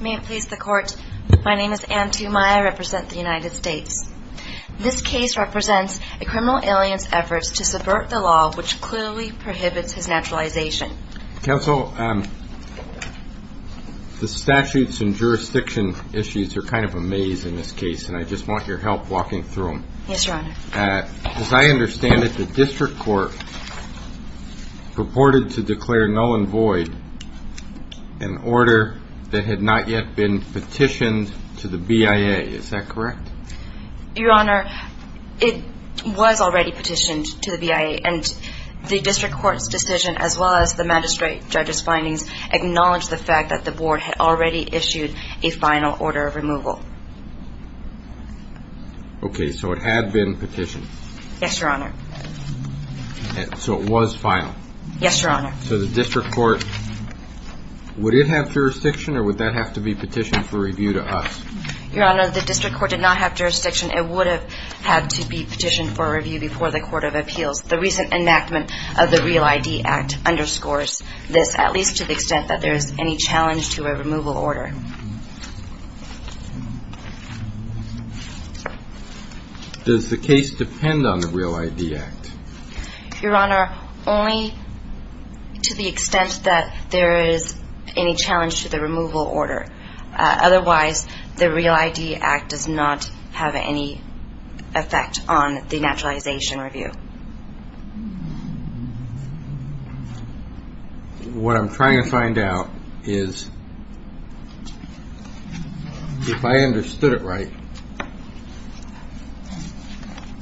May it please the Court, my name is Anne Tumaya. I represent the United States. This case represents a criminal alien's efforts to subvert the law, which clearly prohibits his naturalization. Counsel, the statutes and jurisdiction issues are kind of a maze in this case, and I just want your help walking through them. Yes, Your Honor. As I understand it, the district court purported to declare null and void an order that had not yet been petitioned to the BIA. Is that correct? Your Honor, it was already petitioned to the BIA, and the district court's decision, as well as the magistrate judge's findings, acknowledged the fact that the board had already issued a final order of removal. Okay, so it had been petitioned. Yes, Your Honor. So it was filed. Yes, Your Honor. So the district court, would it have jurisdiction, or would that have to be petitioned for review to us? Your Honor, the district court did not have jurisdiction. It would have had to be petitioned for review before the Court of Appeals. The recent enactment of the REAL ID Act underscores this, at least to the extent that there is any challenge to a removal order. Does the case depend on the REAL ID Act? Your Honor, only to the extent that there is any challenge to the removal order. Otherwise, the REAL ID Act does not have any effect on the naturalization review. What I'm trying to find out is, if I understood it right,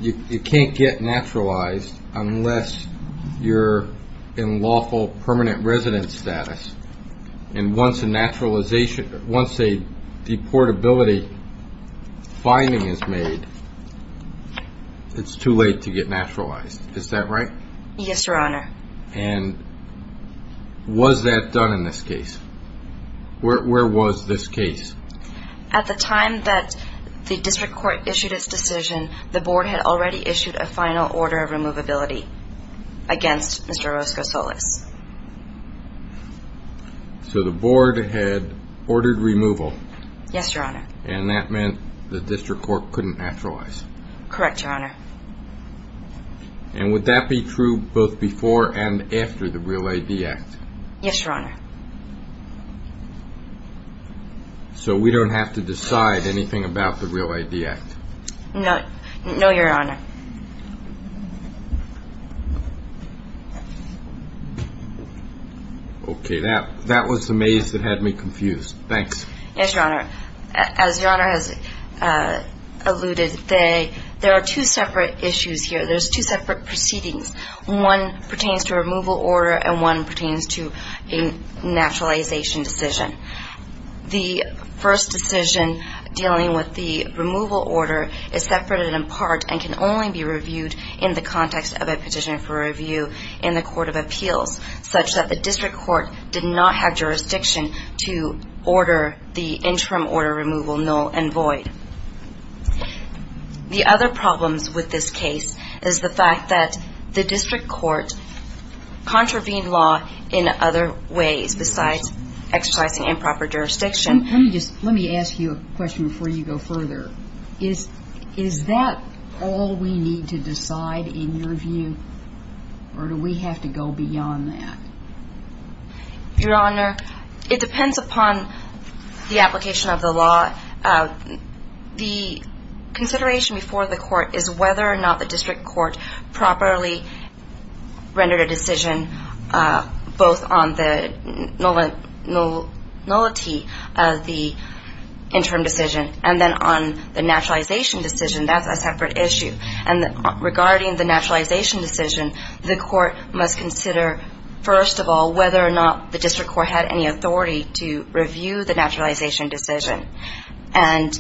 you can't get naturalized unless you're in lawful permanent residence status. And once a deportability finding is made, it's too late to get naturalized. Is that right? Yes, Your Honor. And was that done in this case? Where was this case? At the time that the district court issued its decision, the board had already issued a final order of removability against Mr. Orozco-Solas. So the board had ordered removal? Yes, Your Honor. And that meant the district court couldn't naturalize? Correct, Your Honor. And would that be true both before and after the REAL ID Act? Yes, Your Honor. So we don't have to decide anything about the REAL ID Act? No, Your Honor. Okay. That was the maze that had me confused. Thanks. Yes, Your Honor. As Your Honor has alluded, there are two separate issues here. There's two separate proceedings. One pertains to removal order and one pertains to a naturalization decision. The first decision dealing with the removal order is separated in part and can only be reviewed in the context of a petition for review in the court of appeals, such that the district court did not have jurisdiction to order the interim order removal null and void. The other problems with this case is the fact that the district court contravened law in other ways besides exercising improper jurisdiction. Let me ask you a question before you go further. Is that all we need to decide in your view, or do we have to go beyond that? Your Honor, it depends upon the application of the law. The consideration before the court is whether or not the district court properly rendered a decision both on the nullity of the interim decision and then on the naturalization decision. That's a separate issue. And regarding the naturalization decision, the court must consider, first of all, whether or not the district court had any authority to review the naturalization decision and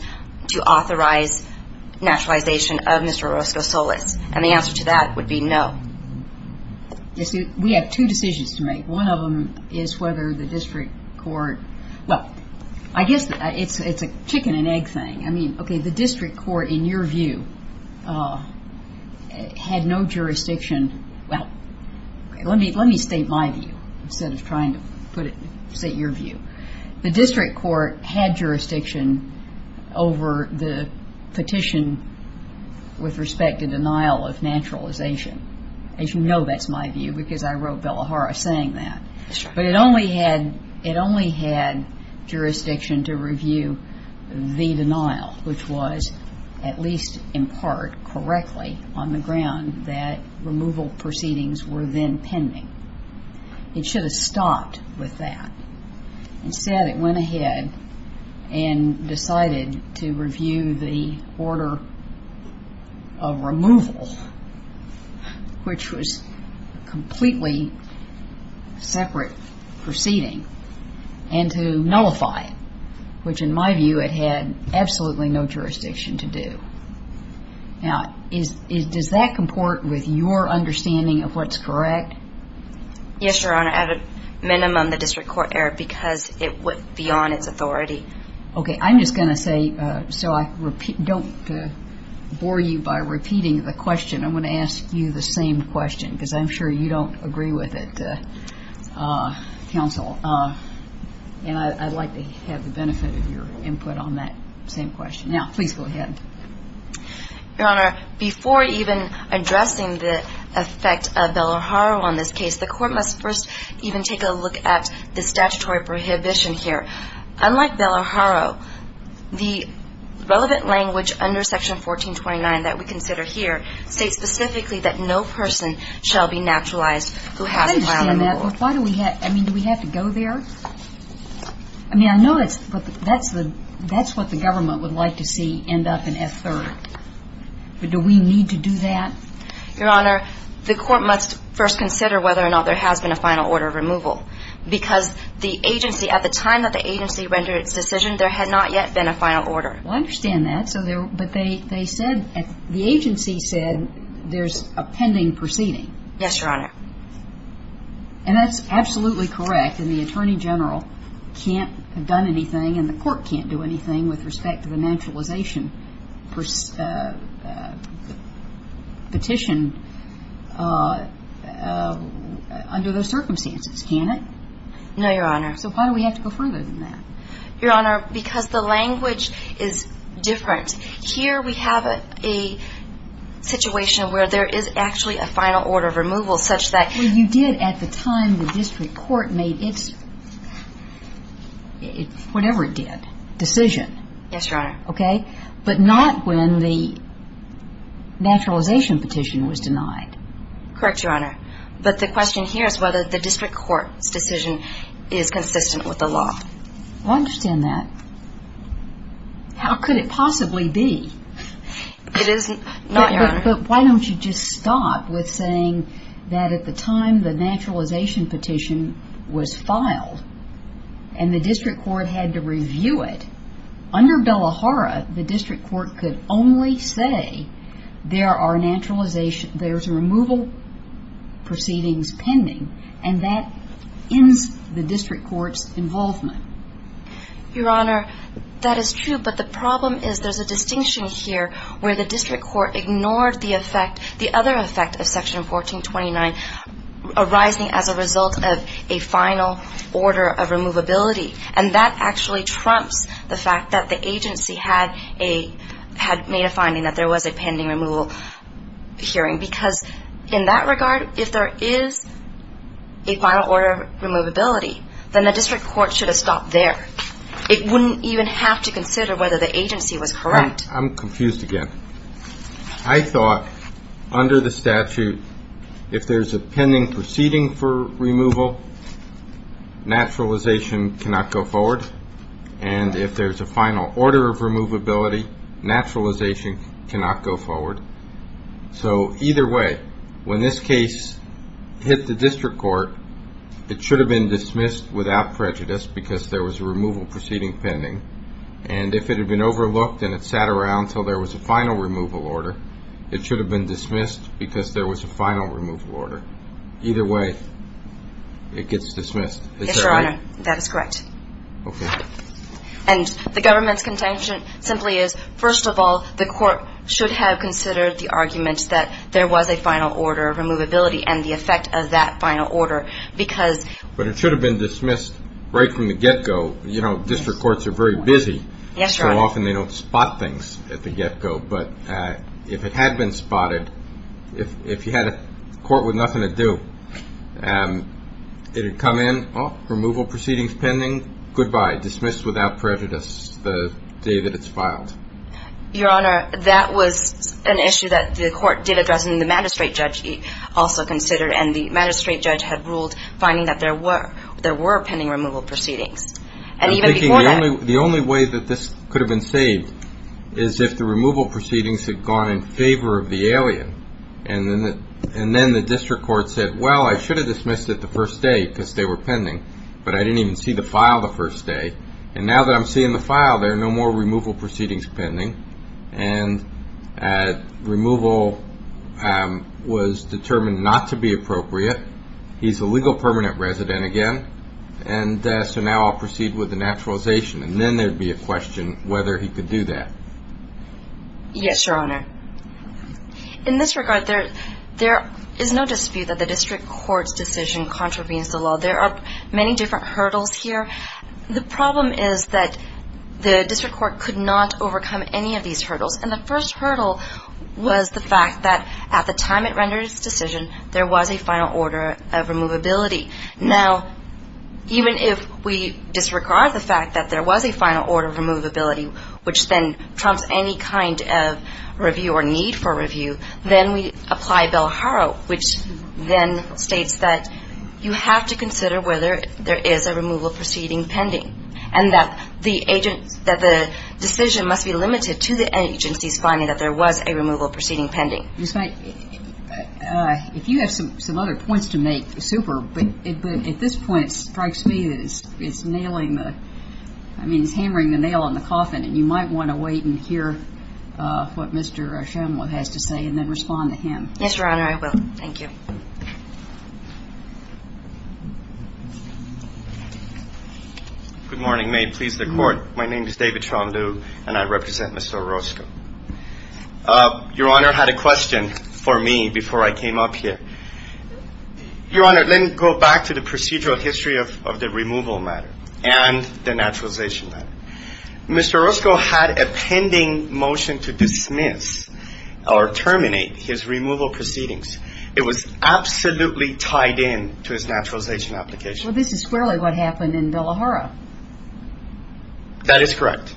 to authorize naturalization of Mr. Orozco Solis. And the answer to that would be no. We have two decisions to make. One of them is whether the district court – well, I guess it's a chicken and egg thing. I mean, okay, the district court, in your view, had no jurisdiction. Well, let me state my view instead of trying to put it – state your view. The district court had jurisdiction over the petition with respect to denial of naturalization. As you know, that's my view because I wrote Bellahara saying that. But it only had jurisdiction to review the denial, which was at least in part correctly on the ground that removal proceedings were then pending. It should have stopped with that. Instead, it went ahead and decided to review the order of removal, which was a completely separate proceeding, and to nullify it, which, in my view, it had absolutely no jurisdiction to do. Now, does that comport with your understanding of what's correct? Yes, Your Honor. At a minimum, the district court erred because it went beyond its authority. Okay. I'm just going to say – so I don't bore you by repeating the question. I'm going to ask you the same question because I'm sure you don't agree with it, Counsel. And I'd like to have the benefit of your input on that same question. Now, please go ahead. Your Honor, before even addressing the effect of Bellahara on this case, the court must first even take a look at the statutory prohibition here. Unlike Bellahara, the relevant language under Section 1429 that we consider here states specifically that no person shall be naturalized who has a plan of removal. Well, why do we – I mean, do we have to go there? I mean, I know it's – that's what the government would like to see end up in F-3rd. But do we need to do that? Your Honor, the court must first consider whether or not there has been a final order of removal because the agency – at the time that the agency rendered its decision, there had not yet been a final order. Well, I understand that. But they said – the agency said there's a pending proceeding. Yes, Your Honor. And that's absolutely correct. And the Attorney General can't have done anything and the court can't do anything with respect to the naturalization petition under those circumstances, can it? No, Your Honor. So why do we have to go further than that? Your Honor, because the language is different. Here we have a situation where there is actually a final order of removal such that – Well, you did at the time the district court made its – whatever it did – decision. Yes, Your Honor. Okay? But not when the naturalization petition was denied. Correct, Your Honor. But the question here is whether the district court's decision is consistent with the law. Well, I understand that. How could it possibly be? It is not, Your Honor. But why don't you just stop with saying that at the time the naturalization petition was filed and the district court had to review it, under Bellahara the district court could only say there are naturalization – there's a removal proceedings pending and that ends the district court's involvement. Your Honor, that is true. But the problem is there's a distinction here where the district court ignored the effect – the other effect of Section 1429 arising as a result of a final order of removability. And that actually trumps the fact that the agency had made a finding that there was a pending removal hearing. Because in that regard, if there is a final order of removability, then the district court should have stopped there. It wouldn't even have to consider whether the agency was correct. I'm confused again. I thought under the statute, if there's a pending proceeding for removal, naturalization cannot go forward. And if there's a final order of removability, naturalization cannot go forward. So either way, when this case hit the district court, it should have been dismissed without prejudice because there was a removal proceeding pending. And if it had been overlooked and it sat around until there was a final removal order, it should have been dismissed because there was a final removal order. Either way, it gets dismissed. Yes, Your Honor, that is correct. Okay. And the government's contention simply is, first of all, the court should have considered the argument that there was a final order of removability and the effect of that final order because. But it should have been dismissed right from the get-go. You know, district courts are very busy. Yes, Your Honor. So often they don't spot things at the get-go. But if it had been spotted, if you had a court with nothing to do, it would come in, well, removal proceedings pending, goodbye, dismissed without prejudice the day that it's filed. Your Honor, that was an issue that the court did address and the magistrate judge also considered, and the magistrate judge had ruled finding that there were pending removal proceedings. And even before that. I'm thinking the only way that this could have been saved is if the removal proceedings had gone in favor of the alien And then the district court said, well, I should have dismissed it the first day because they were pending. But I didn't even see the file the first day. And now that I'm seeing the file, there are no more removal proceedings pending. And removal was determined not to be appropriate. He's a legal permanent resident again. And so now I'll proceed with the naturalization. And then there would be a question whether he could do that. Yes, Your Honor. In this regard, there is no dispute that the district court's decision contravenes the law. There are many different hurdles here. The problem is that the district court could not overcome any of these hurdles. And the first hurdle was the fact that at the time it rendered its decision, there was a final order of removability. Now, even if we disregard the fact that there was a final order of removability, which then trumps any kind of review or need for review, then we apply Bell-Harrow, which then states that you have to consider whether there is a removal proceeding pending and that the decision must be limited to the agency's finding that there was a removal proceeding pending. Ms. Knight, if you have some other points to make, super, but at this point, it strikes me that it's nailing the – I mean, it's hammering the nail in the coffin. And you might want to wait and hear what Mr. O'Shaughnessy has to say and then respond to him. Yes, Your Honor, I will. Thank you. Good morning. May it please the Court. My name is David Trondeau, and I represent Mr. Orozco. Your Honor had a question for me before I came up here. Your Honor, let me go back to the procedural history of the removal matter and the naturalization matter. Mr. Orozco had a pending motion to dismiss or terminate his removal proceedings. It was absolutely tied in to his naturalization application. Well, this is clearly what happened in Bell-Harrow. That is correct.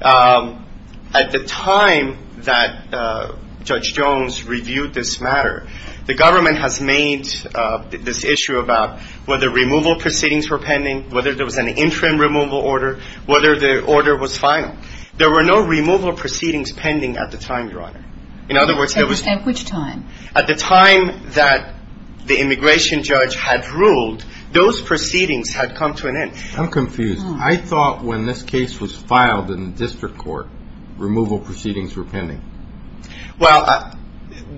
At the time that Judge Jones reviewed this matter, the government has made this issue about whether removal proceedings were pending, whether there was an interim removal order, whether the order was final. There were no removal proceedings pending at the time, Your Honor. At which time? At the time that the immigration judge had ruled, those proceedings had come to an end. I'm confused. I thought when this case was filed in the district court, removal proceedings were pending. Well,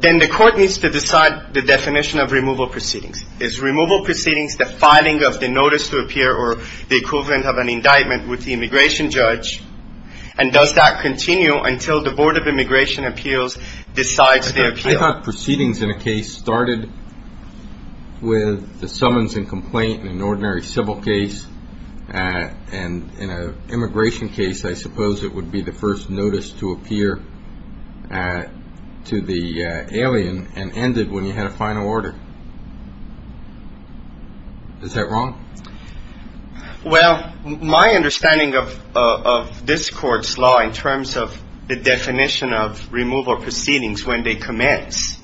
then the court needs to decide the definition of removal proceedings. Is removal proceedings the filing of the notice to appear or the equivalent of an indictment with the immigration judge? And does that continue until the Board of Immigration Appeals decides the appeal? I thought proceedings in a case started with the summons and complaint in an ordinary civil case. And in an immigration case, I suppose it would be the first notice to appear to the alien and ended when you had a final order. Is that wrong? Well, my understanding of this court's law in terms of the definition of removal proceedings when they commence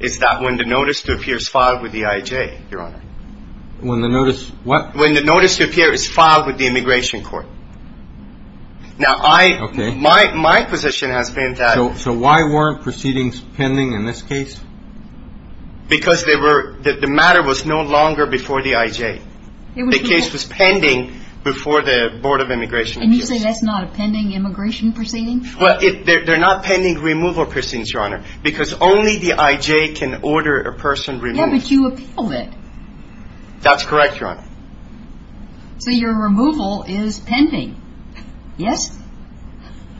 is that when the notice to appear is filed with the IJ, Your Honor. When the notice what? When the notice to appear is filed with the immigration court. Now, my position has been that. So why weren't proceedings pending in this case? Because the matter was no longer before the IJ. The case was pending before the Board of Immigration Appeals. And you say that's not a pending immigration proceeding? Well, they're not pending removal proceedings, Your Honor, because only the IJ can order a person removed. Yeah, but you appealed it. That's correct, Your Honor. So your removal is pending, yes?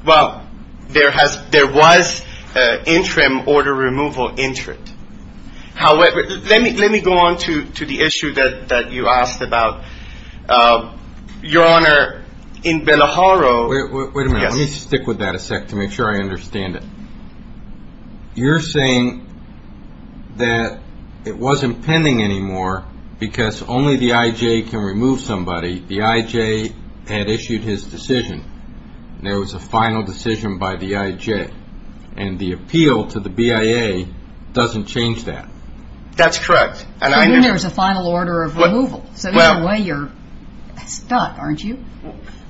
Well, there was an interim order removal entrant. However, let me go on to the issue that you asked about. Your Honor, in Bellaharo. Wait a minute. Let me stick with that a sec to make sure I understand it. You're saying that it wasn't pending anymore because only the IJ can remove somebody. The IJ had issued his decision. There was a final decision by the IJ. And the appeal to the BIA doesn't change that. That's correct. But then there's a final order of removal. So either way, you're stuck, aren't you?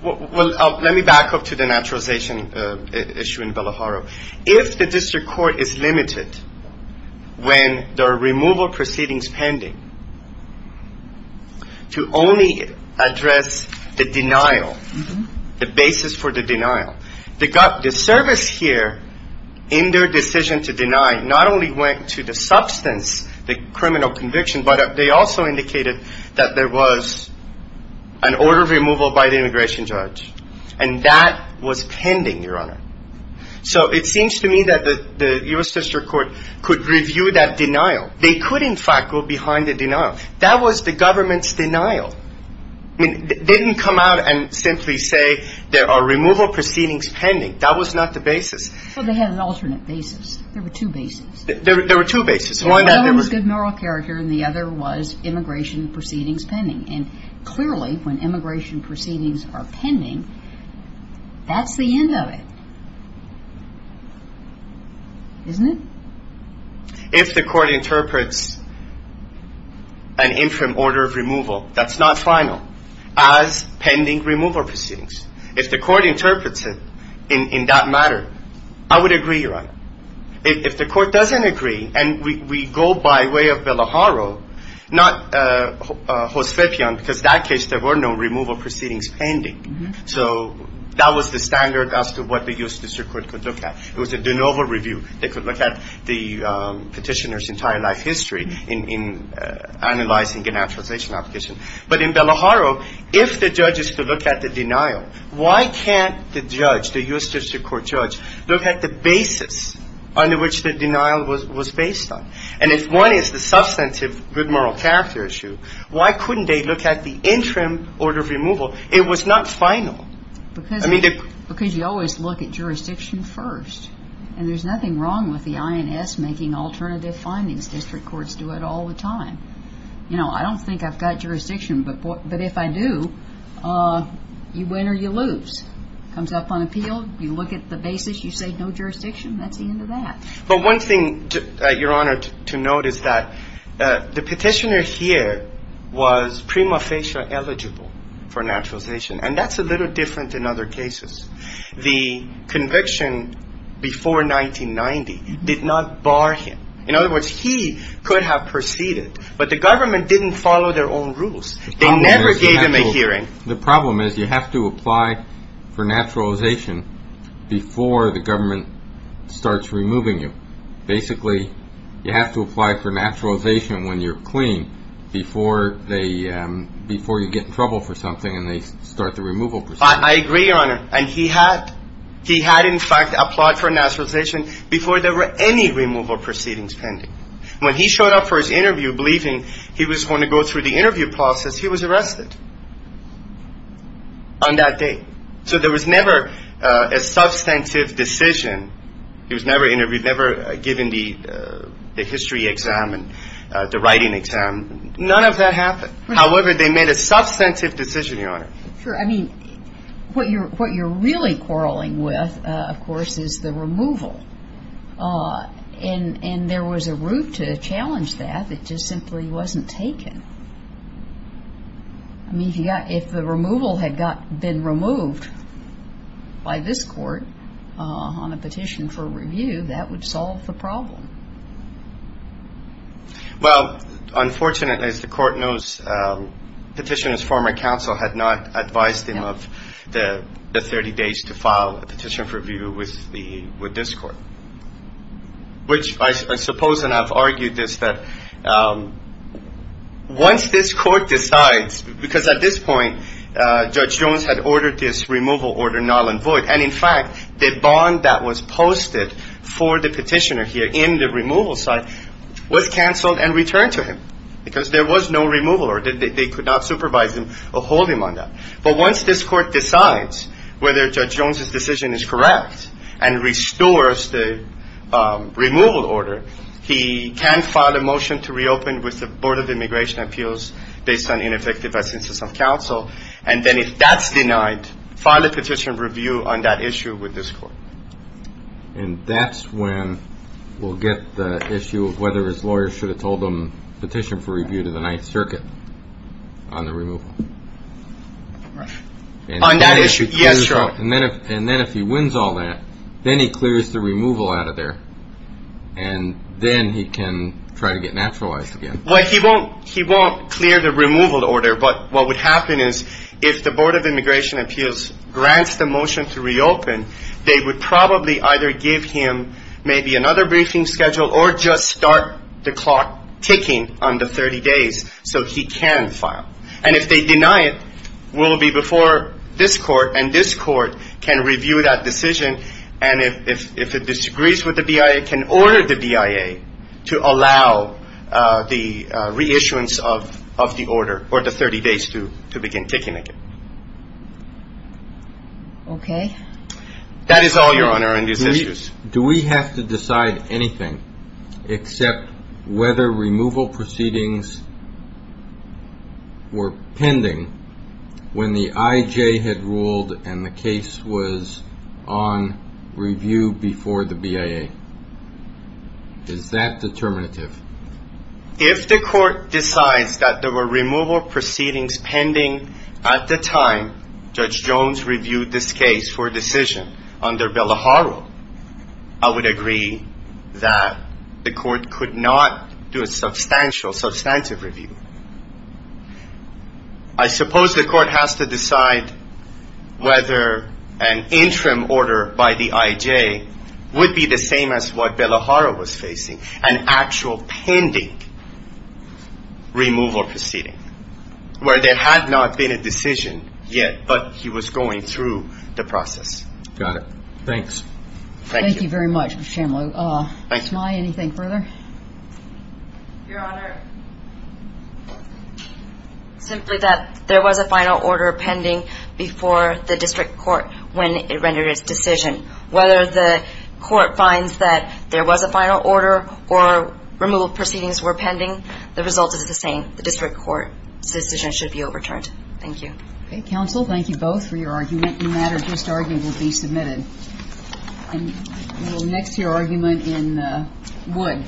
Well, let me back up to the naturalization issue in Bellaharo. If the district court is limited when there are removal proceedings pending to only address the denial, the basis for the denial, the service here in their decision to deny not only went to the substance, the criminal conviction, but they also indicated that there was an order of removal by the immigration judge. And that was pending, Your Honor. So it seems to me that the U.S. District Court could review that denial. They could, in fact, go behind the denial. That was the government's denial. They didn't come out and simply say there are removal proceedings pending. That was not the basis. Well, they had an alternate basis. There were two basis. There were two basis. One was good moral character and the other was immigration proceedings pending. And clearly when immigration proceedings are pending, that's the end of it, isn't it? If the court interprets an interim order of removal that's not final as pending removal proceedings, if the court interprets it in that matter, I would agree, Your Honor. If the court doesn't agree and we go by way of Bellaharo, not Josepian, because in that case there were no removal proceedings pending. So that was the standard as to what the U.S. District Court could look at. It was a de novo review. They could look at the petitioner's entire life history in analyzing a denaturalization application. But in Bellaharo, if the judge is to look at the denial, why can't the judge, the U.S. District Court judge, look at the basis under which the denial was based on? And if one is the substantive good moral character issue, why couldn't they look at the interim order of removal? It was not final. Because you always look at jurisdiction first. And there's nothing wrong with the INS making alternative findings. District courts do it all the time. You know, I don't think I've got jurisdiction. But if I do, you win or you lose. Comes up on appeal. You look at the basis. You say no jurisdiction. That's the end of that. But one thing, Your Honor, to note is that the petitioner here was prima facie eligible for denaturalization. And that's a little different in other cases. The conviction before 1990 did not bar him. In other words, he could have proceeded. But the government didn't follow their own rules. They never gave him a hearing. The problem is you have to apply for naturalization before the government starts removing you. Basically, you have to apply for naturalization when you're clean before you get in trouble for something and they start the removal procedure. I agree, Your Honor. And he had, in fact, applied for naturalization before there were any removal proceedings pending. When he showed up for his interview believing he was going to go through the interview process, he was arrested on that day. So there was never a substantive decision. He was never given the history exam and the writing exam. None of that happened. However, they made a substantive decision, Your Honor. Sure. I mean, what you're really quarreling with, of course, is the removal. And there was a route to challenge that. It just simply wasn't taken. I mean, if the removal had been removed by this court on a petition for review, that would solve the problem. Well, unfortunately, as the court knows, Petitioner's former counsel had not advised him of the 30 days to file a petition for review with this court, which I suppose, and I've argued this, that once this court decides, because at this point Judge Jones had ordered this removal order null and void, and, in fact, the bond that was posted for the petitioner here in the removal site was canceled and returned to him because there was no removal order. They could not supervise him or hold him on that. But once this court decides whether Judge Jones's decision is correct and restores the removal order, he can file a motion to reopen with the Board of Immigration Appeals based on ineffective essence of counsel. And then if that's denied, file a petition for review on that issue with this court. And that's when we'll get the issue of whether his lawyer should have told him petition for review to the Ninth Circuit on the removal. Right. On that issue. Yes, sir. And then if he wins all that, then he clears the removal out of there, and then he can try to get naturalized again. Well, he won't clear the removal order, but what would happen is if the Board of Immigration Appeals grants the motion to reopen, they would probably either give him maybe another briefing schedule or just start the clock ticking on the 30 days so he can file. And if they deny it, we'll be before this court, and this court can review that decision. And if it disagrees with the BIA, it can order the BIA to allow the reissuance of the order or the 30 days to begin ticking again. Okay. That is all, Your Honor and your sisters. Do we have to decide anything except whether removal proceedings were pending when the IJ had ruled and the case was on review before the BIA? Is that determinative? If the court decides that there were removal proceedings pending at the time Judge Jones reviewed this case for a decision under Bellaharo, I would agree that the court could not do a substantial, substantive review. I suppose the court has to decide whether an interim order by the IJ would be the same as what Bellaharo was facing, an actual pending removal proceeding where there had not been a decision yet, but he was going through the process. Got it. Thanks. Thank you. Thank you very much, Mr. Chamlew. Thank you. Ms. Mai, anything further? Your Honor, simply that there was a final order pending before the district court when it rendered its decision. Whether the court finds that there was a final order or removal proceedings were pending, the result is the same. The district court's decision should be overturned. Thank you. Okay. Counsel, thank you both for your argument. Any matter just argued will be submitted. We will next hear argument in Wood. Thank you.